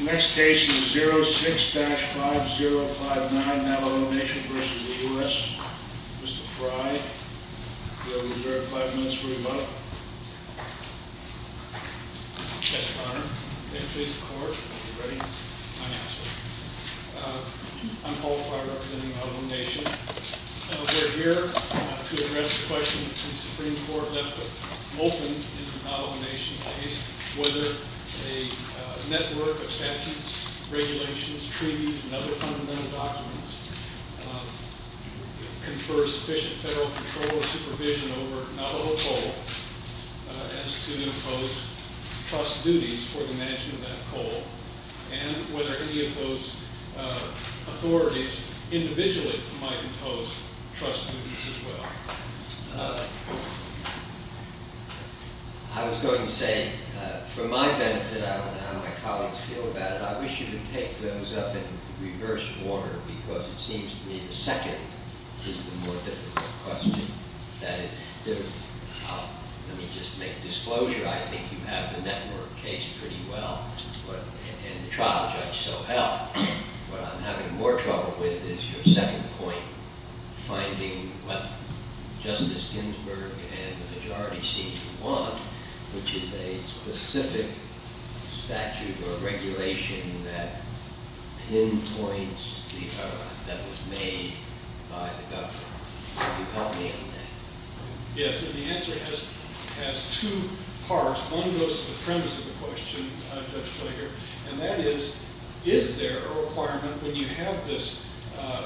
Next case is 06-5059 Navajo Nation v. U.S. Mr. Frye, will you be able to verify for us where you are? Yes, Your Honor. May it please the Court? Are you ready? I am, sir. I'm Paul Frye representing Navajo Nation. We are here to address the question that the Supreme Court left open in the Navajo Nation case whether a network of statutes, regulations, treaties, and other fundamental documents confer sufficient federal control or supervision over Navajo coal as to impose trust duties for the management of that coal and whether any of those authorities individually might impose trust duties as well. I was going to say, for my benefit, I don't know how my colleagues feel about it. I wish you would take those up in reverse order because it seems to me the second is the more difficult question. Let me just make disclosure, I think you have the network case pretty well and the trial judge so helped. What I'm having more trouble with is your second point, finding what Justice Ginsburg and the majority seem to want which is a specific statute or regulation that pinpoints the error that was made by the government. Yes, and the answer has two parts. One goes to the premise of the question, Judge Clay here, and that is, is there a requirement when you have this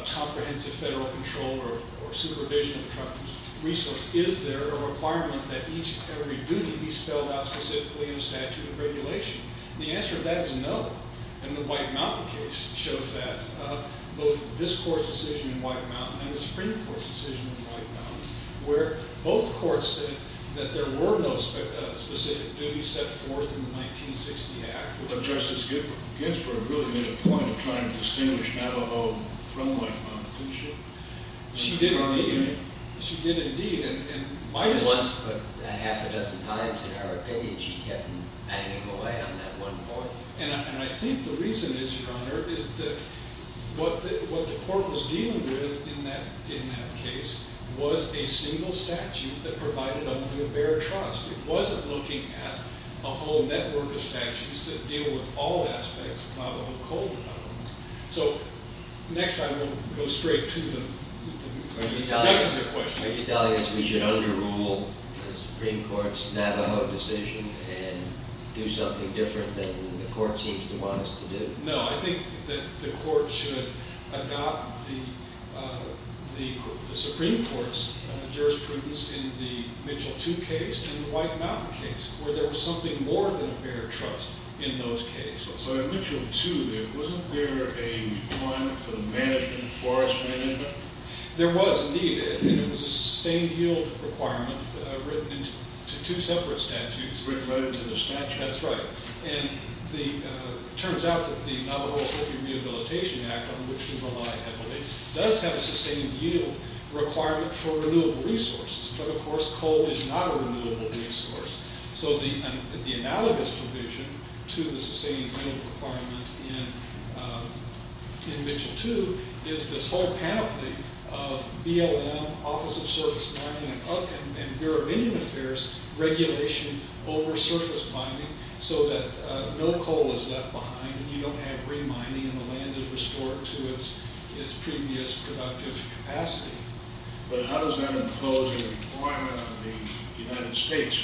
comprehensive federal control or supervision of trust resource, is there a requirement that each and every duty be spelled out specifically in a statute of regulation? The answer to that is no, and the White Mountain case shows that. Both this court's decision in White Mountain and the Supreme Court's decision in White Mountain where both courts said that there were no specific duties set forth in the 1960 Act. But Justice Ginsburg really made a point of trying to distinguish Navajo from White Mountain, didn't she? She did indeed. She did indeed. She once put a half a dozen times in her opinion. She kept banging away on that one point. And I think the reason is, Your Honor, is that what the court was dealing with in that case was a single statute that provided only a bare trust. It wasn't looking at a whole network of statutes that deal with all aspects of Navajo code. So next I will go straight to the next question. Are you telling us we should underrule the Supreme Court's Navajo decision and do something different than the court seems to want us to do? No, I think that the court should adopt the Supreme Court's jurisprudence in the Mitchell 2 case and the White Mountain case where there was something more than a bare trust in those cases. So in Mitchell 2 there wasn't there a requirement for the management, forest management? There was indeed, and it was a sustained yield requirement written into two separate statutes. Written right into the statute? That's right. And it turns out that the Navajo Rehabilitation Act, on which we rely heavily, does have a sustained yield requirement for renewable resources. But of course coal is not a renewable resource. So the analogous provision to the sustained yield requirement in Mitchell 2 is this whole panoply of BLM, Office of Surface Mining, and Bureau of Indian Affairs regulation over surface mining so that no coal is left behind and you don't have re-mining and the land is restored to its previous productive capacity. But how does that impose a requirement on the United States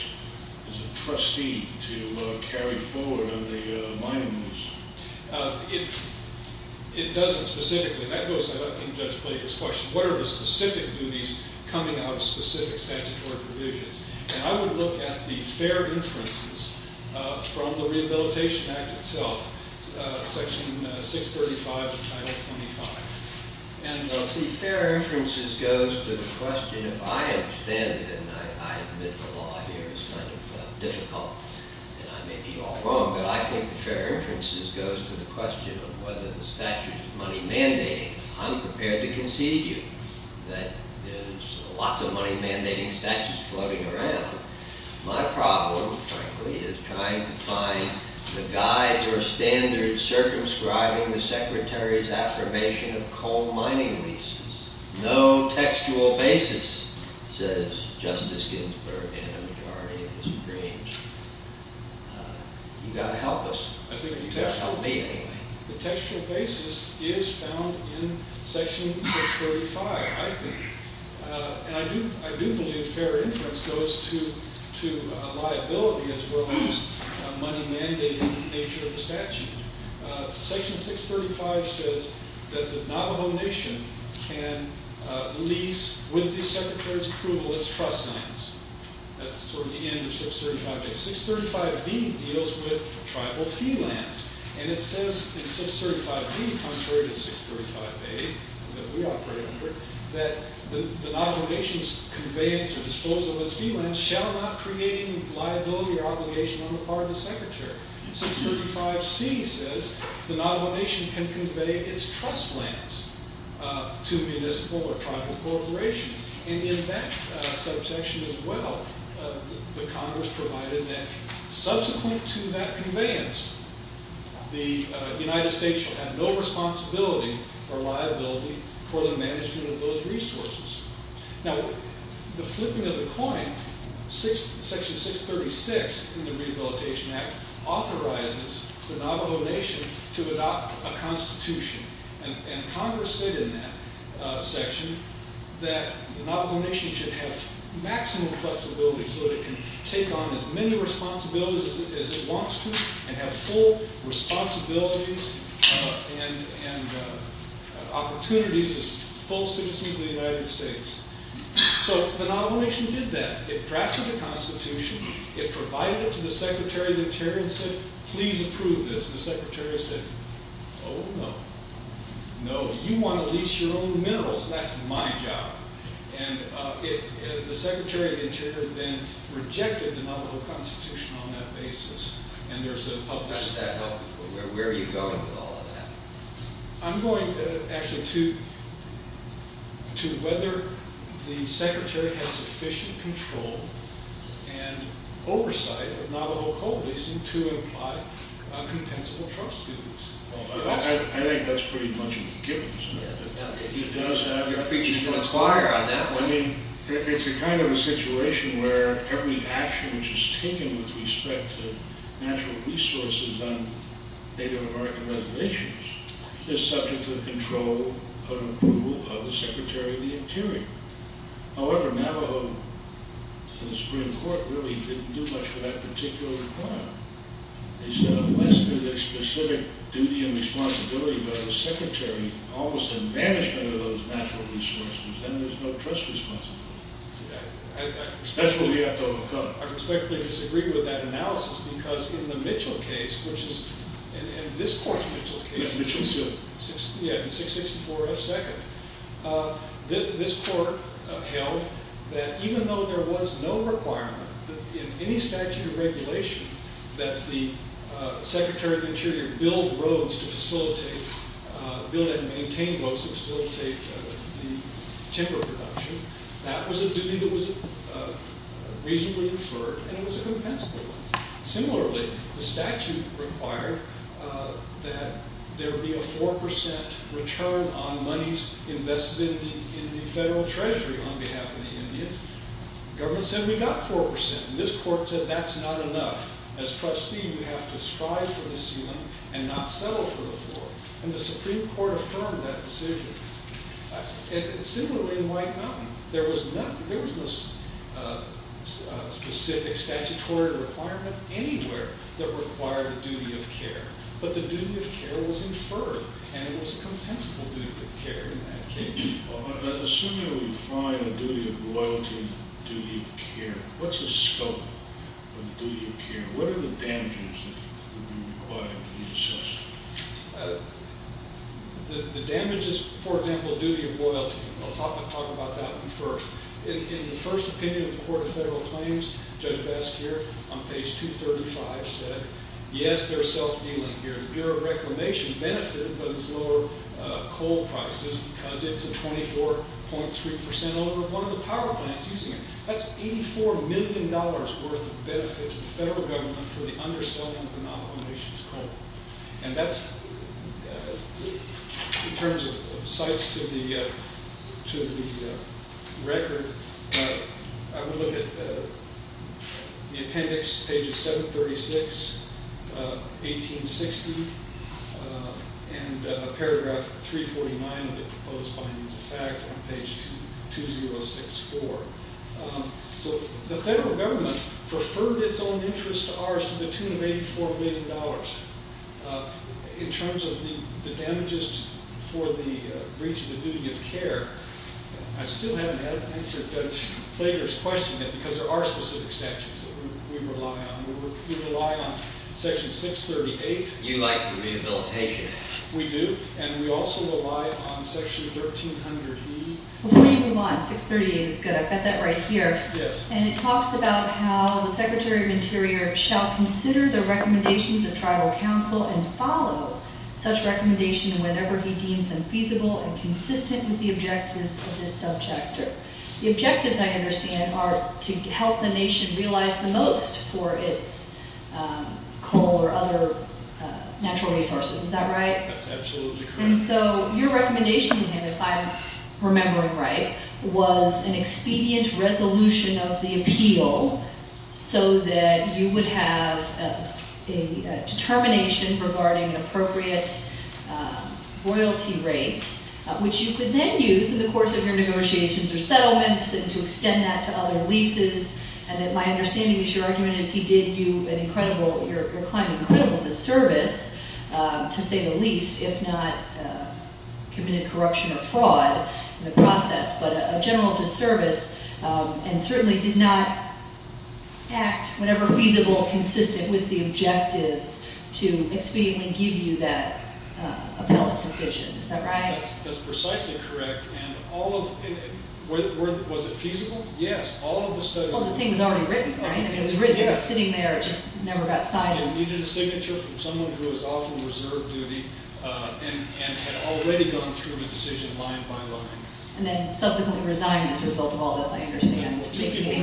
as a trustee to carry forward on the mining moves? It doesn't specifically. That goes back to Judge Blader's question. What are the specific duties coming out of specific statutory provisions? And I would look at the fair inferences from the Rehabilitation Act itself, Section 635, Title 25. See, fair inferences goes to the question, if I understand it, and I admit the law here is kind of difficult and I may be all wrong, but I think fair inferences goes to the question of whether the statute is money-mandating. I'm prepared to concede you that there's lots of money-mandating statutes floating around. My problem, frankly, is trying to find the guides or standards circumscribing the Secretary's affirmation of coal mining leases. No textual basis, says Justice Ginsburg and a majority of the Supremes. You've got to help us. The textual basis is found in Section 635, I think. And I do believe fair inference goes to liability as well as money-mandating nature of the statute. Section 635 says that the Navajo Nation can lease, with the Secretary's approval, its trust mines. That's sort of the end of 635A. 635B deals with tribal fee lands. And it says in 635B, contrary to 635A, that we operate under, that the Navajo Nation's conveyance or disposal of its fee lands shall not create any liability or obligation on the part of the Secretary. 635C says the Navajo Nation can convey its trust lands to municipal or tribal corporations. And in that subsection as well, the Congress provided that subsequent to that conveyance, the United States shall have no responsibility or liability for the management of those resources. Now, the flipping of the coin, Section 636 in the Rehabilitation Act authorizes the Navajo Nation to adopt a constitution. And Congress said in that section that the Navajo Nation should have maximum flexibility so that it can take on as many responsibilities as it wants to and have full responsibilities and opportunities as full citizens of the United States. So the Navajo Nation did that. It drafted a constitution. It provided it to the Secretary of the Interior and said, please approve this. And the Secretary said, oh, no. No, you want to lease your own minerals. That's my job. And the Secretary of the Interior then rejected the Navajo constitution on that basis. And there's a published- How does that help? Where are you going with all of that? I'm going actually to whether the Secretary has sufficient control and oversight of Navajo coal leasing to apply a compensable trust to this. I think that's pretty much a given, isn't it? He does have- You're preaching to the choir on that one. I mean, it's a kind of a situation where every action which is taken with respect to natural resources on Native American reservations However, Navajo Supreme Court really didn't do much for that particular requirement. They said unless there's a specific duty and responsibility by the Secretary almost in management of those natural resources, then there's no trust responsibility. That's what we have to overcome. I respectfully disagree with that analysis because in the Mitchell case, which is- in this court's Mitchell case- Yeah, Mitchell suit. Yeah, 664 F. Second. This court held that even though there was no requirement in any statute or regulation that the Secretary of the Interior build roads to facilitate- build and maintain roads to facilitate the timber production, that was a duty that was reasonably deferred and it was a compensable one. in the federal treasury on behalf of the Indians. Government said we got 4%. This court said that's not enough. As trustee, you have to strive for the ceiling and not settle for the floor. And the Supreme Court affirmed that decision. Similarly in White Mountain, there was no specific statutory requirement anywhere that required a duty of care. But the duty of care was deferred and it was a compensable duty of care in that case. Assuming we find a duty of loyalty and a duty of care, what's the scope of the duty of care? What are the damages that would be required to be assessed? The damages- for example, duty of loyalty. I'll talk about that first. In the first opinion of the Court of Federal Claims, Judge Baskier on page 235 said, yes, there's self-dealing here. The Bureau of Reclamation benefited from this lower coal prices because it's a 24.3% over one of the power plants using it. That's $84 million worth of benefit to the federal government for the underselling of the Navajo Nation's coal. And that's- in terms of the sites to the record, I would look at the appendix, pages 736, 1860, and paragraph 349 of the proposed findings of fact on page 2064. So the federal government preferred its own interest to ours to the tune of $84 million. In terms of the damages for the breach of the duty of care, I still haven't answered Judge Flager's question because there are specific statutes that we rely on. We rely on section 638. You like the rehabilitation. We do, and we also rely on section 1300E. Before you move on, 638 is good. I've got that right here. Yes. And it talks about how the Secretary of Interior shall consider the recommendations of tribal council and follow such recommendation whenever he deems them feasible and consistent with the objectives of this sub-chapter. The objectives, I understand, are to help the nation realize the most for its coal or other natural resources. Is that right? That's absolutely correct. And so your recommendation to him, if I'm remembering right, was an expedient resolution of the appeal so that you would have a determination regarding an appropriate royalty rate, which you could then use in the course of your negotiations or settlements and to extend that to other leases, and that my understanding is your argument is he did you an incredible, your client, an incredible disservice, to say the least, if not committed corruption or fraud in the process, but a general disservice and certainly did not act whenever feasible, consistent with the objectives to expediently give you that appellate decision. Is that right? That's precisely correct. And all of... Was it feasible? Yes. All of the studies... Well, the thing was already written, right? It was written. It was sitting there. It just never got signed. It needed a signature from someone who was off of reserve duty and had already gone through the decision line by line. And then subsequently resigned as a result of all this, I understand. Well, two people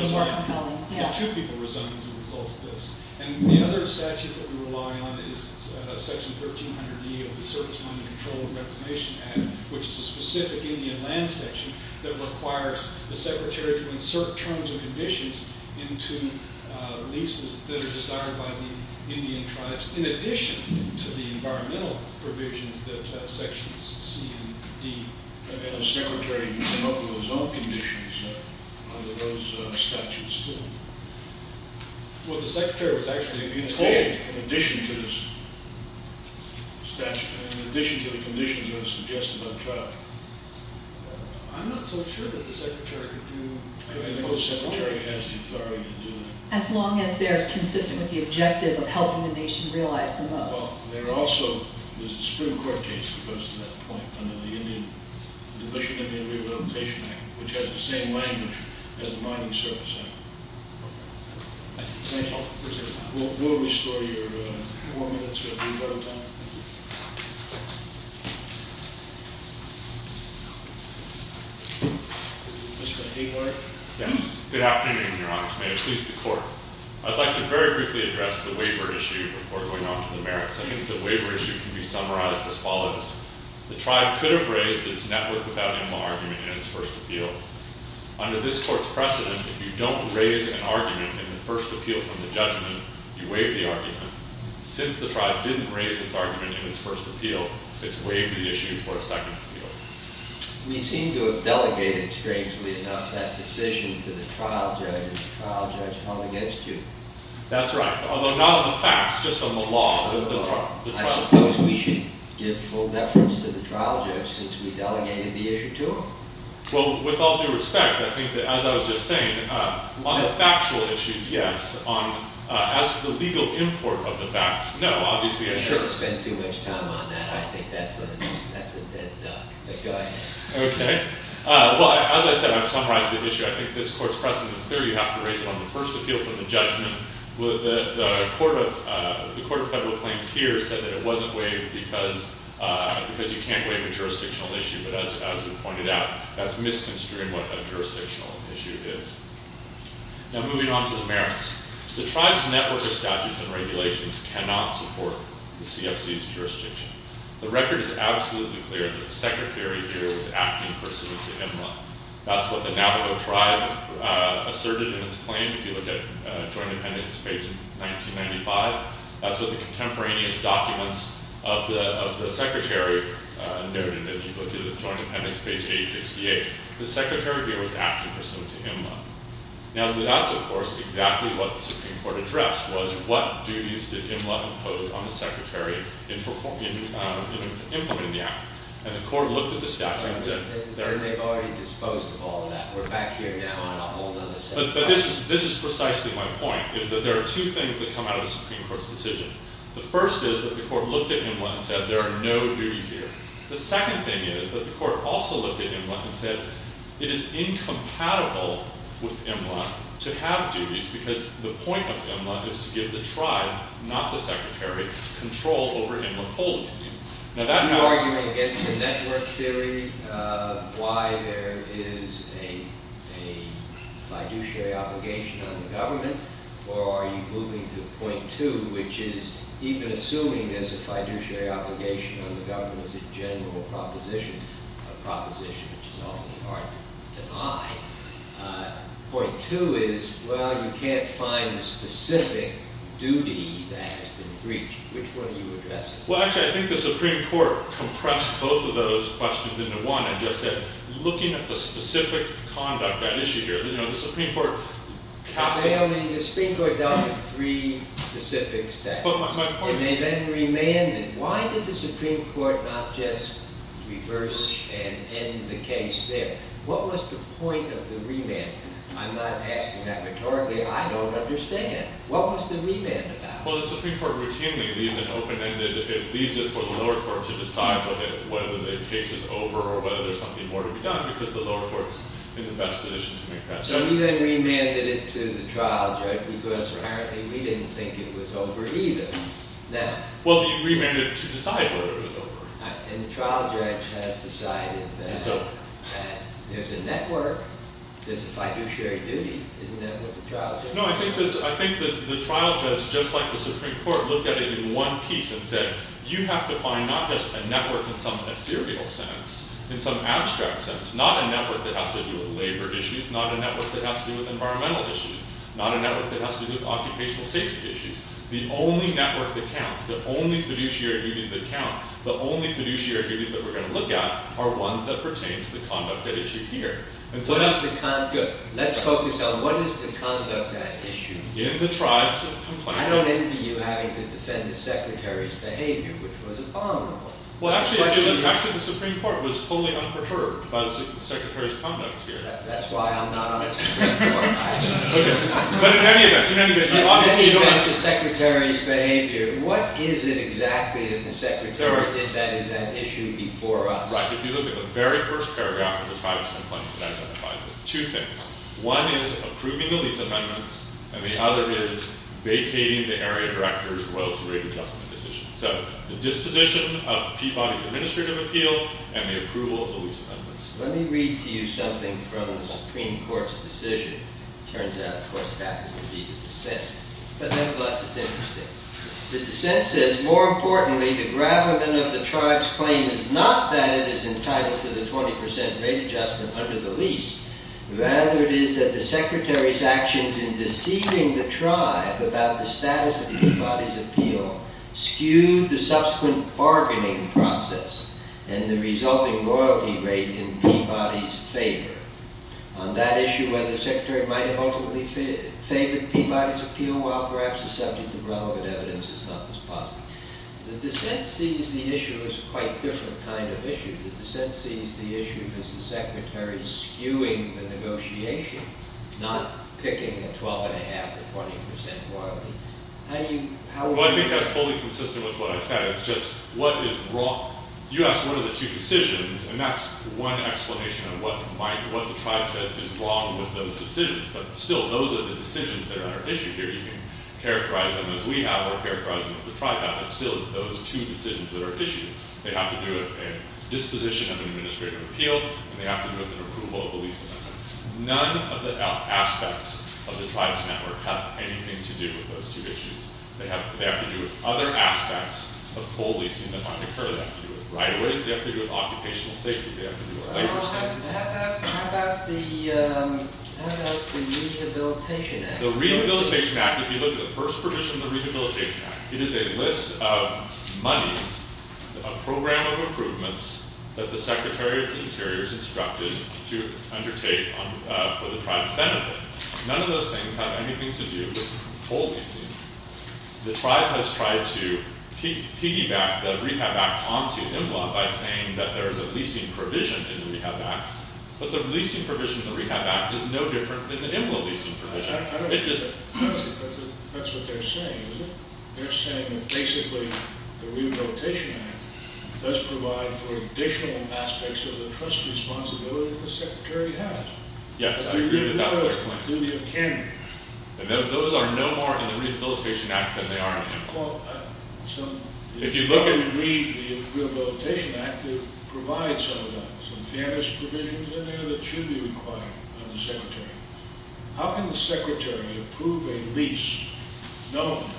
resigned as a result of this. And the other statute that we rely on is Section 1300D of the Service Funding Control and Reclamation Act, which is a specific Indian land section that requires the secretary to insert terms and conditions into leases that are desired by the Indian tribes in addition to the environmental provisions that Sections C and D... And the secretary can come up with his own conditions under those statutes, too. Well, the secretary was actually... In addition to the statutes... In addition to the conditions that were suggested by the tribe. I'm not so sure that the secretary could do... I mean, the secretary has the authority to do that. As long as they're consistent with the objective of helping the nation realize the most. There also is a Supreme Court case that goes to that point. And then the Division of Indian Rehabilitation Act, which has the same language as the Mining Service Act. We'll restore your... Mr. Hayward? Yes. Good afternoon, Your Honor. May it please the Court. I'd like to very briefly address the waiver issue before going on to the merits. I think the waiver issue can be summarized as follows. The tribe could have raised its net worth without animal argument in its first appeal. Under this Court's precedent, if you don't raise an argument in the first appeal from the judgment, you waive the argument. Since the tribe didn't raise its argument in its first appeal, it's waived the issue for a second appeal. We seem to have delegated, strangely enough, that decision to the trial judge, and the trial judge held against you. That's right. Although not on the facts, just on the law. I suppose we should give full deference to the trial judge since we delegated the issue to him. Well, with all due respect, I think that, as I was just saying, on the factual issues, yes. As to the legal import of the facts, no. You shouldn't spend too much time on that. I think that's a dead duck. But go ahead. Okay. Well, as I said, I've summarized the issue. I think this Court's precedent is clear. You have to raise it on the first appeal from the judgment. The Court of Federal Claims here said that it wasn't waived because you can't waive a jurisdictional issue. But as we pointed out, that's misconstruing what a jurisdictional issue is. Now, moving on to the merits. The tribe's network of statutes and regulations cannot support the CFC's jurisdiction. The record is absolutely clear that the Secretary here was acting pursuant to him. That's what the Navajo tribe asserted in its claim. If you look at Joint Dependents, page 1995, that's what the contemporaneous documents of the Secretary noted. If you look at Joint Dependents, page 868, the Secretary here was acting pursuant to him. Now, that's, of course, exactly what the Supreme Court addressed, was what duties did him impose on the Secretary in implementing the act? And the Court looked at the statute and said... And they've already disposed of all of that. We're back here now on a whole other set of... But this is precisely my point, is that there are two things that come out of the Supreme Court's decision. The first is that the Court looked at Imla and said there are no duties here. The second thing is that the Court also looked at Imla and said it is incompatible with Imla to have duties because the point of Imla is to give the tribe, not the Secretary, control over Imla Coliseum. Now, that... Are you arguing against the network theory why there is a fiduciary obligation on the government, or are you moving to point two, which is even assuming there's a fiduciary obligation on the government as a general proposition, a proposition which is often hard to deny, point two is, well, you can't find a specific duty that has been breached. Which one are you addressing? Well, actually, I think the Supreme Court compressed both of those questions into one and just said, looking at the specific conduct at issue here, you know, the Supreme Court cast... Well, the Supreme Court dealt with three specific statutes. But my point... And they then remanded. Why did the Supreme Court not just reverse and end the case there? What was the point of the remand? I'm not asking that rhetorically. I don't understand. What was the remand about? Well, the Supreme Court routinely leaves an open-ended... to decide whether the case is over or whether there's something more to be done because the lower court's in the best position to make that judgment. So you then remanded it to the trial judge because apparently we didn't think it was over either. Well, you remanded it to decide whether it was over. And the trial judge has decided that there's a network, there's a fiduciary duty. Isn't that what the trial judge... No, I think the trial judge, just like the Supreme Court, looked at it in one piece and said, you have to find not just a network in some ethereal sense, in some abstract sense, not a network that has to do with labor issues, not a network that has to do with environmental issues, not a network that has to do with occupational safety issues. The only network that counts, the only fiduciary duties that count, the only fiduciary duties that we're going to look at are ones that pertain to the conduct at issue here. What is the conduct? Let's focus on what is the conduct at issue? In the tribes of complaining... I don't envy you having to defend the secretary's behavior, which was abominable. Actually, the Supreme Court was totally unperturbed by the secretary's conduct here. That's why I'm not on the Supreme Court. But in any event... In any event, the secretary's behavior, what is it exactly that the secretary did that is at issue before us? If you look at the very first paragraph of the tribes complaint, that identifies two things. One is approving the lease amendments, and the other is vacating the area director's royalty rate adjustment decision. So the disposition of Peabody's administrative appeal and the approval of the lease amendments. Let me read to you something from the Supreme Court's decision. It turns out, of course, it happens to be the dissent. But nevertheless, it's interesting. The dissent says, More importantly, the gravamen of the tribe's claim is not that it is entitled to the 20% rate adjustment under the lease, rather it is that the secretary's actions in deceiving the tribe about the status of Peabody's appeal skewed the subsequent bargaining process and the resulting royalty rate in Peabody's favor. On that issue, whether the secretary might have ultimately favored Peabody's appeal while perhaps the subject of relevant evidence is not this positive. The dissent sees the issue as a quite different kind of issue. The dissent sees the issue as the secretary skewing the negotiation, not picking a 12.5% or 20% royalty. How do you... Well, I think that's fully consistent with what I said. It's just, what is wrong? You asked what are the two decisions, and that's one explanation of what the tribe says is wrong with those decisions. But still, those are the decisions that are at issue here. You can characterize them as we have or characterize them as the tribe has, but still, it's those two decisions that are issued. They have to do with a disposition of an administrative appeal, and they have to do with an approval of a lease amendment. None of the aspects of the tribe's network have anything to do with those two issues. They have to do with other aspects of full leasing that might occur. They have to do with right-of-ways. They have to do with occupational safety. They have to do with labor safety. How about the Rehabilitation Act? The Rehabilitation Act, if you look at the first provision of the Rehabilitation Act, it is a list of monies, a program of improvements, that the Secretary of the Interior is instructed to undertake for the tribe's benefit. None of those things have anything to do with full leasing. The tribe has tried to piggyback the Rehab Act onto IMLA by saying that there is a leasing provision in the Rehab Act, but the leasing provision in the Rehab Act is no different than the IMLA leasing provision. That's what they're saying, isn't it? They're saying that basically the Rehabilitation Act does provide for additional aspects of the trust responsibility that the Secretary has. Yes, I agree with that first point. Those are no more in the Rehabilitation Act than they are in the IMLA. If you look at the Rehabilitation Act, it provides some of that. There are some fairness provisions in there that should be required by the Secretary. How can the Secretary approve a lease? Does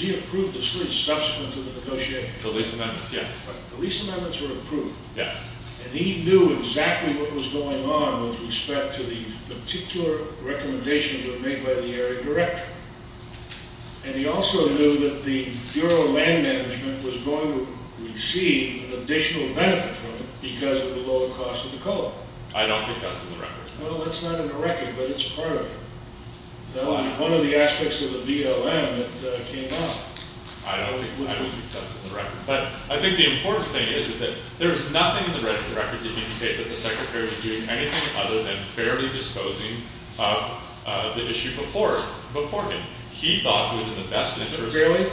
he approve the lease subsequent to the negotiation? The lease amendments, yes. The lease amendments were approved. Yes. And he knew exactly what was going on with respect to the particular recommendations that were made by the area director. And he also knew that the Bureau of Land Management was going to receive an additional benefit from it because of the lower cost of the coal. I don't think that's in the record. No, that's not in the record, but it's part of it. One of the aspects of the BLM that came out. I don't think that's in the record. But I think the important thing is that there's nothing in the record to indicate that the Secretary was doing anything other than fairly disposing of the issue before him. He thought it was in the best interest. Fairly?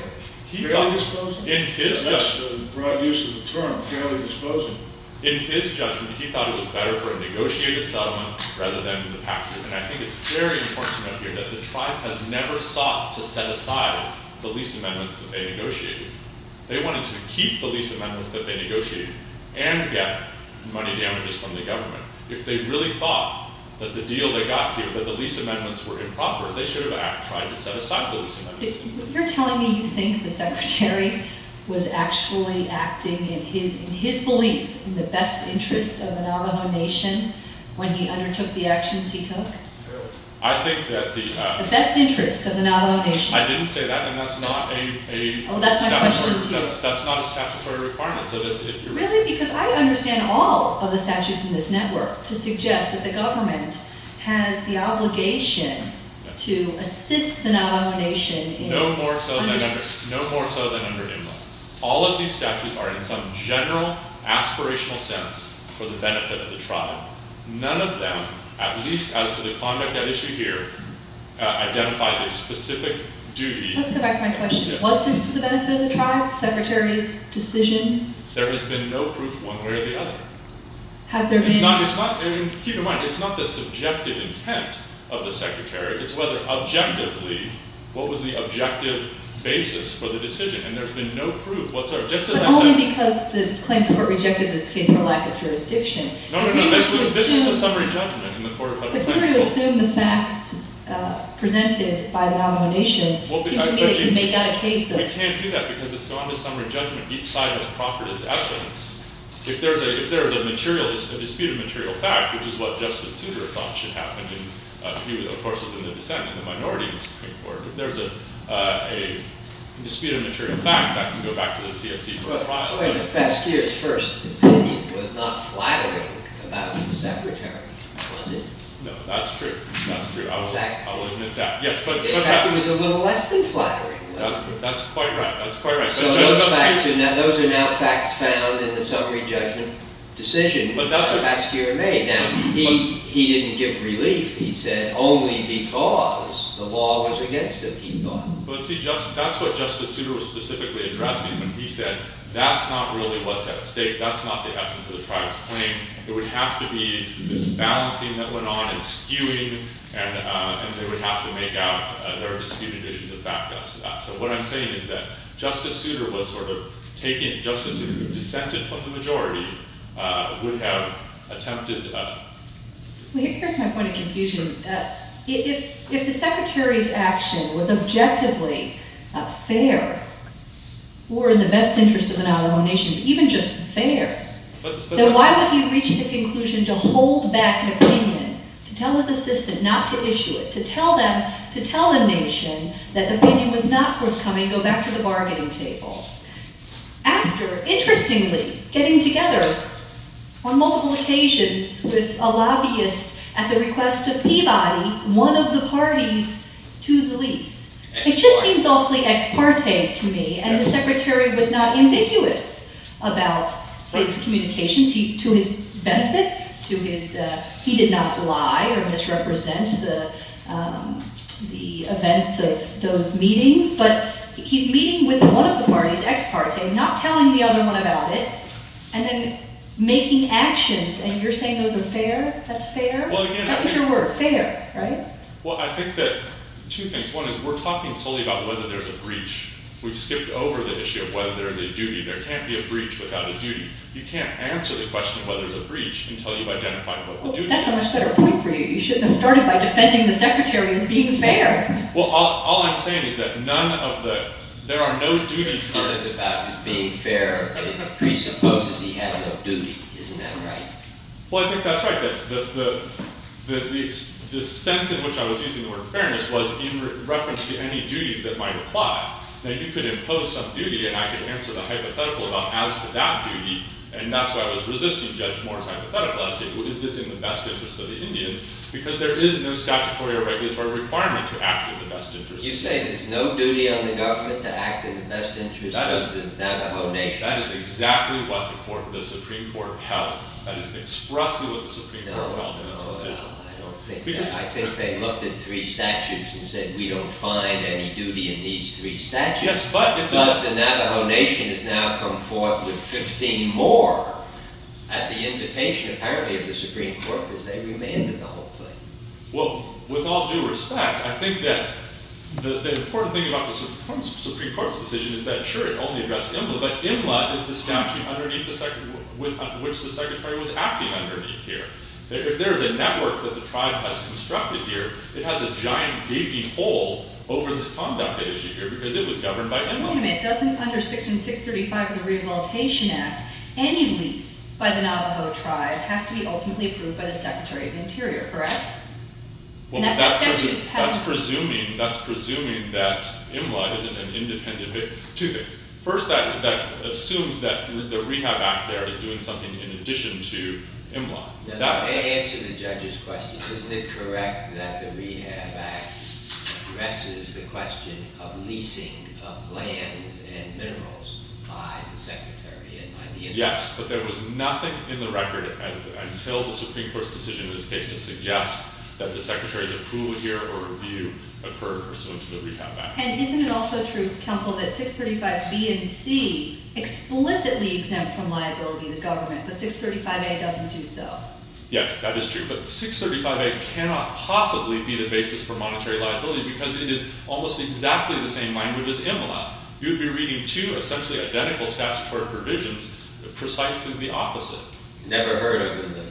Fairly disposing? That's the broad use of the term, fairly disposing. In his judgment, he thought it was better for him to negotiate in settlement rather than in the past year. And I think it's very important to note here that the tribe has never sought to set aside the lease amendments that they negotiated. They wanted to keep the lease amendments that they negotiated and get money damages from the government. If they really thought that the deal they got here, that the lease amendments were improper, they should have tried to set aside the lease amendments. So you're telling me you think the Secretary was actually acting in his belief in the best interest of the Navajo Nation when he undertook the actions he took? Fairly. The best interest of the Navajo Nation. I didn't say that, and that's not a statutory requirement. Really? Because I understand all of the statutes in this network to suggest that the government has the obligation to assist the Navajo Nation. No more so than under Inland. All of these statutes are in some general aspirational sense for the benefit of the tribe. None of them, at least as to the conduct at issue here, identifies a specific duty. Let's go back to my question. Was this to the benefit of the tribe, the Secretary's decision? There has been no proof one way or the other. Have there been? Keep in mind, it's not the subjective intent of the Secretary. It's whether objectively, what was the objective basis for the decision, and there's been no proof whatsoever. But only because the claims court rejected this case for lack of jurisdiction. No, no, no. This is a summary judgment in the court of federal counsel. If we were to assume the facts presented by the Navajo Nation, it seems to me that you may get a case of. We can't do that because it's gone to summary judgment. Each side has proffered its evidence. If there is a disputed material fact, which is what Justice Souter thought should happen, and he, of course, is in the dissent in the Minority Supreme Court. If there's a disputed material fact, that can go back to the CSE for a trial. Wait a minute. Basquiat's first opinion was not flattering about the Secretary, was it? No, that's true. That's true. I will admit that. In fact, it was a little less than flattering, was it? That's quite right. That's quite right. Those are now facts found in the summary judgment decision last year in May. Now, he didn't give relief. He said only because the law was against it, he thought. But, see, that's what Justice Souter was specifically addressing when he said that's not really what's at stake. That's not the essence of the tribe's claim. It would have to be this balancing that went on and skewing, and they would have to make out their disputed issues and back us to that. So what I'm saying is that Justice Souter was sort of taking it. Justice Souter, who dissented from the majority, would have attempted. Here's my point of confusion. If the Secretary's action was objectively fair or in the best interest of an Alamo nation, even just fair, then why would he reach the conclusion to hold back an opinion, to tell his assistant not to issue it, to tell them, to tell a nation that the opinion was not forthcoming, go back to the bargaining table? After, interestingly, getting together on multiple occasions with a lobbyist at the request of Peabody, one of the parties to the lease. It just seems awfully ex parte to me, and the Secretary was not ambiguous about his communications. To his benefit, he did not lie or misrepresent the events of those meetings, but he's meeting with one of the parties, ex parte, not telling the other one about it, and then making actions, and you're saying those are fair? That's fair? That was your word, fair, right? Well, I think that two things. One is we're talking solely about whether there's a breach. We've skipped over the issue of whether there's a duty. There can't be a breach without a duty. You can't answer the question of whether there's a breach until you've identified what the duty is. Well, that's a much better point for you. You shouldn't have started by defending the Secretary as being fair. Well, all I'm saying is that none of the – there are no duties to him. You're talking about his being fair presupposes he has a duty. Isn't that right? Well, I think that's right. The sense in which I was using the word fairness was in reference to any duties that might apply, that he could impose some duty, and I could answer the hypothetical about as to that duty, and that's why I was resisting Judge Moore's hypothetical asking, is this in the best interest of the Indian? Because there is no statutory or regulatory requirement to act in the best interest. You say there's no duty on the government to act in the best interest of the Navajo Nation. That is exactly what the Supreme Court held. That is expressly what the Supreme Court held in its decision. I don't think that. I think they looked at three statutes and said we don't find any duty in these three statutes. But the Navajo Nation has now come forth with 15 more at the invitation, apparently, of the Supreme Court because they remanded the whole thing. Well, with all due respect, I think that the important thing about the Supreme Court's decision is that, sure, it only addressed Imla, but Imla is the statute underneath which the Secretary was acting underneath here. If there is a network that the tribe has constructed here, it has a giant gaping hole over this that is governed by Imla. Wait a minute. Under Section 635 of the Rehabilitation Act, any lease by the Navajo tribe has to be ultimately approved by the Secretary of the Interior, correct? Well, that's presuming that Imla isn't an independent victim. Two things. First, that assumes that the Rehab Act there is doing something in addition to Imla. That may answer the judge's question. Isn't it correct that the Rehab Act addresses the question of leasing of lands and minerals by the Secretary and by the Interior? Yes, but there was nothing in the record until the Supreme Court's decision in this case to suggest that the Secretary's approval here or review occurred pursuant to the Rehab Act. And isn't it also true, counsel, that 635B and C explicitly exempt from liability the government, but 635A doesn't do so? Yes, that is true. But 635A cannot possibly be the basis for monetary liability because it is almost exactly the same language as Imla. You would be reading two essentially identical statutory provisions precisely the opposite. Never heard of it in the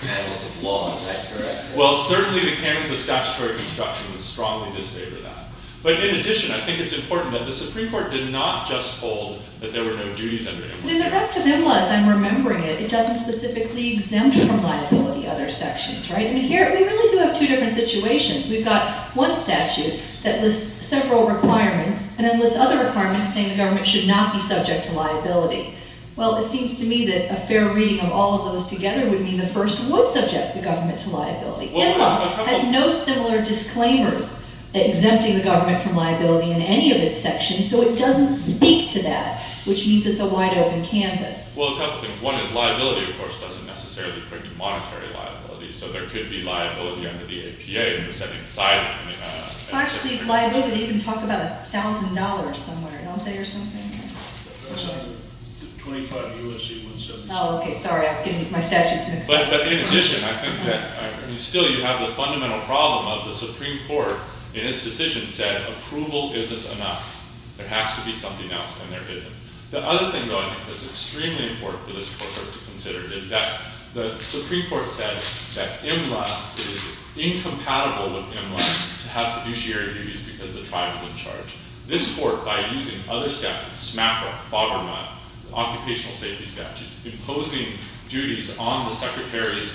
panels of law. Is that correct? Well, certainly the panels of statutory construction strongly disagree with that. But in addition, I think it's important that the Supreme Court did not just hold that there were no duties under Imla. In the rest of Imla, as I'm remembering it, it doesn't specifically exempt from liability other sections, right? And here we really do have two different situations. We've got one statute that lists several requirements and then lists other requirements saying the government should not be subject to liability. Well, it seems to me that a fair reading of all of those together would mean the first would subject the government to liability. Imla has no similar disclaimers exempting the government from liability in any of its sections. So it doesn't speak to that, which means it's a wide-open canvas. Well, a couple of things. One is liability, of course, doesn't necessarily bring to monetary liability. So there could be liability under the APA in the second siding. Actually, liability, you can talk about $1,000 somewhere, don't they, or something? 25 U.S.C. 177. Oh, OK. Sorry. I was getting my statutes mixed up. But in addition, I think that still you have the fundamental problem of the Supreme Court in its decision said approval isn't enough. There has to be something else, and there isn't. The other thing, though, I think that's extremely important for this court to consider is that the Supreme Court said that Imla is incompatible with Imla to have fiduciary duties because the tribe is in charge. This court, by using other statutes, SMAPA, FABRMA, occupational safety statutes, imposing duties on the secretaries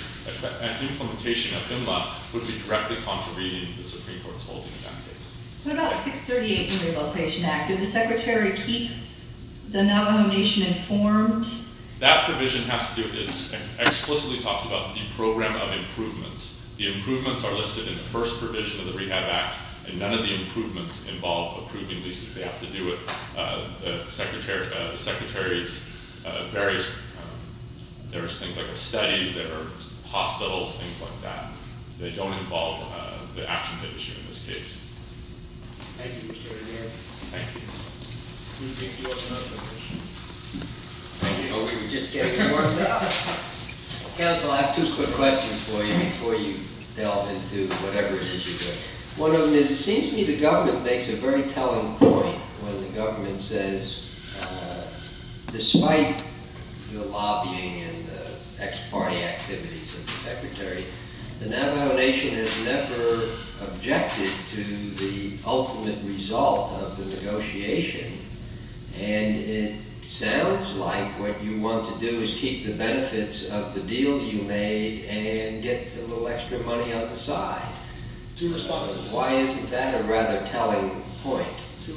at implementation of Imla would be directly contravening the withholding of that case. What about 638 in the Rehabilitation Act? Did the secretary keep the Navajo Nation informed? That provision has to do—it explicitly talks about the program of improvements. The improvements are listed in the first provision of the Rehab Act, and none of the improvements involve approving leases. They have to do with the secretary's various—there's things like studies, there are hospitals, things like that. They don't involve the actions that were taken in this case. Thank you, Mr. O'Donnell. Thank you. Do you think you have another question? I hope you were just getting warmed up. Counsel, I have two quick questions for you before you delve into whatever it is you're doing. One of them is it seems to me the government makes a very telling point when the government says despite the lobbying and the ex-party activities of the secretary, the Navajo Nation has never objected to the ultimate result of the negotiation, and it sounds like what you want to do is keep the benefits of the deal you made and get a little extra money on the side. Two responses. Two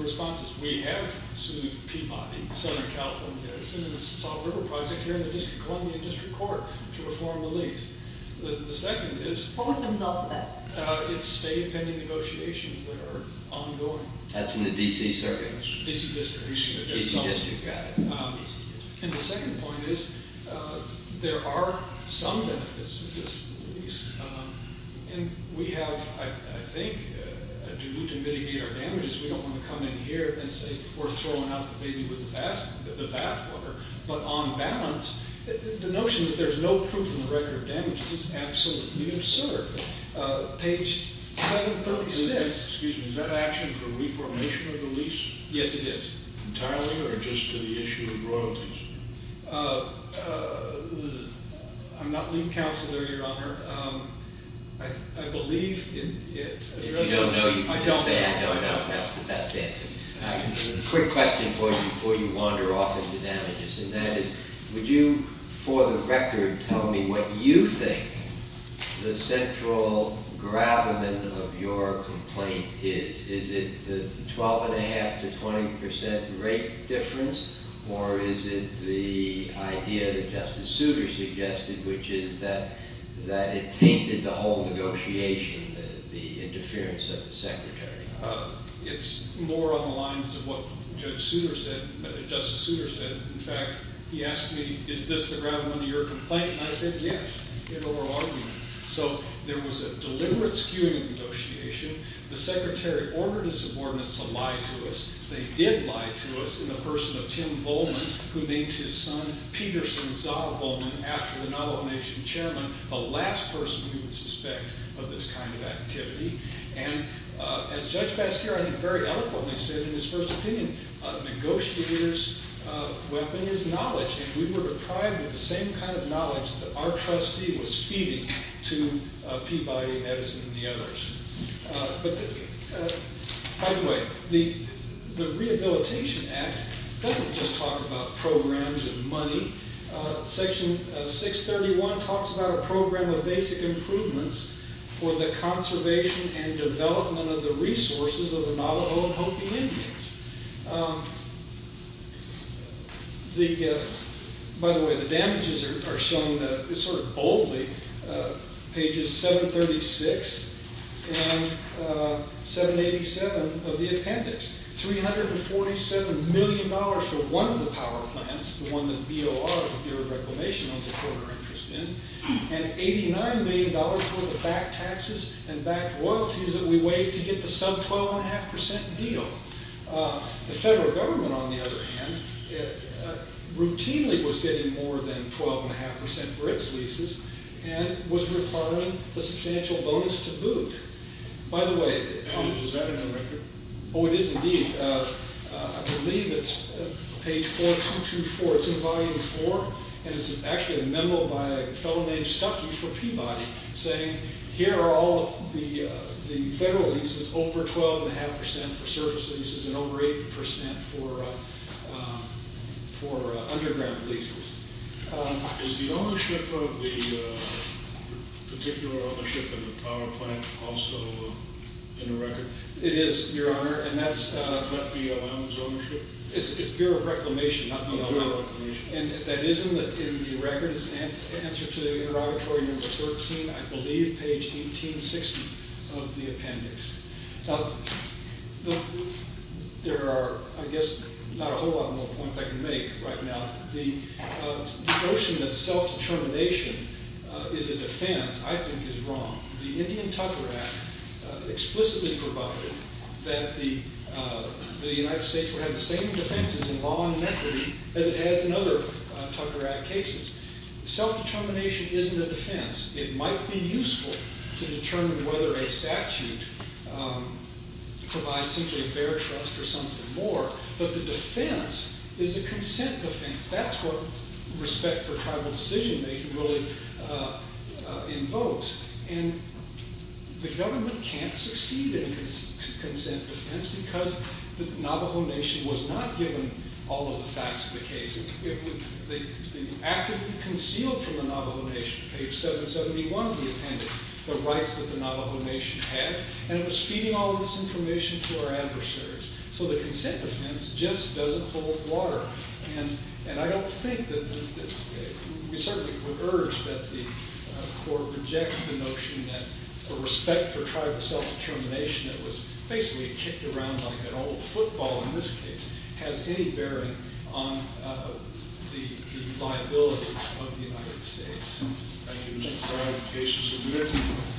responses. We have sued Peabody, Senator California Edison, and the Salt River Project here in the District of Columbia District Court to reform the lease. The second is— What was the result of that? It's state pending negotiations that are ongoing. That's in the D.C. Circuit. D.C. District. D.C. District. And the second point is there are some benefits to this lease, and we have, I think, due to the fact that we're throwing out the baby with the bathwater, but on balance, the notion that there's no proof in the record of damages is absolutely absurd. Page 736— Excuse me. Is that action for reformation of the lease? Yes, it is. Entirely, or just to the issue of royalties? I'm not lead counselor, Your Honor. I believe— If you don't know, you can just say, I know, I know. That's the best answer. I have a quick question for you before you wander off into damages, and that is, would you, for the record, tell me what you think the central gravamen of your complaint is? Is it the 12.5 to 20 percent rate difference, or is it the idea that Justice Souter suggested, which is that it tainted the whole negotiation, the interference of the Secretary? It's more on the lines of what Justice Souter said. In fact, he asked me, is this the gravamen of your complaint? And I said, yes, in oral argument. So there was a deliberate skewing of negotiation. The Secretary ordered his subordinates to lie to us. They did lie to us in the person of Tim Volman, who named his son, Peterson Zahl Volman, after the Navajo Nation chairman, the last person we would suspect of this kind of activity. And as Judge Basquiat very eloquently said in his first opinion, a negotiator's weapon is knowledge, and we were deprived of the same kind of knowledge that our trustee was feeding to Peabody, Edison, and the others. By the way, the Rehabilitation Act doesn't just talk about programs and money. Section 631 talks about a program of basic improvements for the conservation and development of the resources of the Navajo and Hopi Indians. By the way, the damages are shown sort of boldly. Pages 736 and 787 of the appendix. $347 million for one of the power plants, the one that BOR, the Bureau of Reclamation, owns a quarter interest in, and $89 million worth of backed taxes and backed royalties that we waived to get the sub-12.5% deal. The federal government, on the other hand, routinely was getting more than 12.5% for its leases and was requiring a substantial bonus to boot. By the way... Is that in the record? Oh, it is indeed. I believe it's page 4224. It's in volume 4, and it's actually a memo by a fellow named Stucky for Peabody saying here are all the federal leases, over 12.5% for surface leases and over 8% for underground leases. Is the ownership of the particular ownership of the power plant also in the record? It is, Your Honor, and that's... Is that the allowance ownership? It's Bureau of Reclamation, not BOR. And that is in the record. It's in answer to the interrogatory number 13, I believe, page 1860 of the appendix. There are, I guess, not a whole lot more points I can make right now. The notion that self-determination is a defense, I think, is wrong. The Indian Tucker Act explicitly provided that the United States would have the same defenses in law and equity as it has in other Tucker Act cases. Self-determination isn't a defense. It might be useful to determine whether a statute provides simply a bear trust or something more, but the defense is a consent defense. That's what respect for tribal decision-making really invokes. And the government can't succeed in a consent defense because the Navajo Nation was not given all of the facts of the case. It was actively concealed from the Navajo Nation. Page 771 of the appendix, the rights that the Navajo Nation had. And it was feeding all of this information to our adversaries. So the consent defense just doesn't hold water. And I don't think that... We certainly would urge that the court reject the notion that a respect for tribal self-determination that was basically kicked around like an old football, in this case, has any bearing on the liabilities of the United States. Thank you.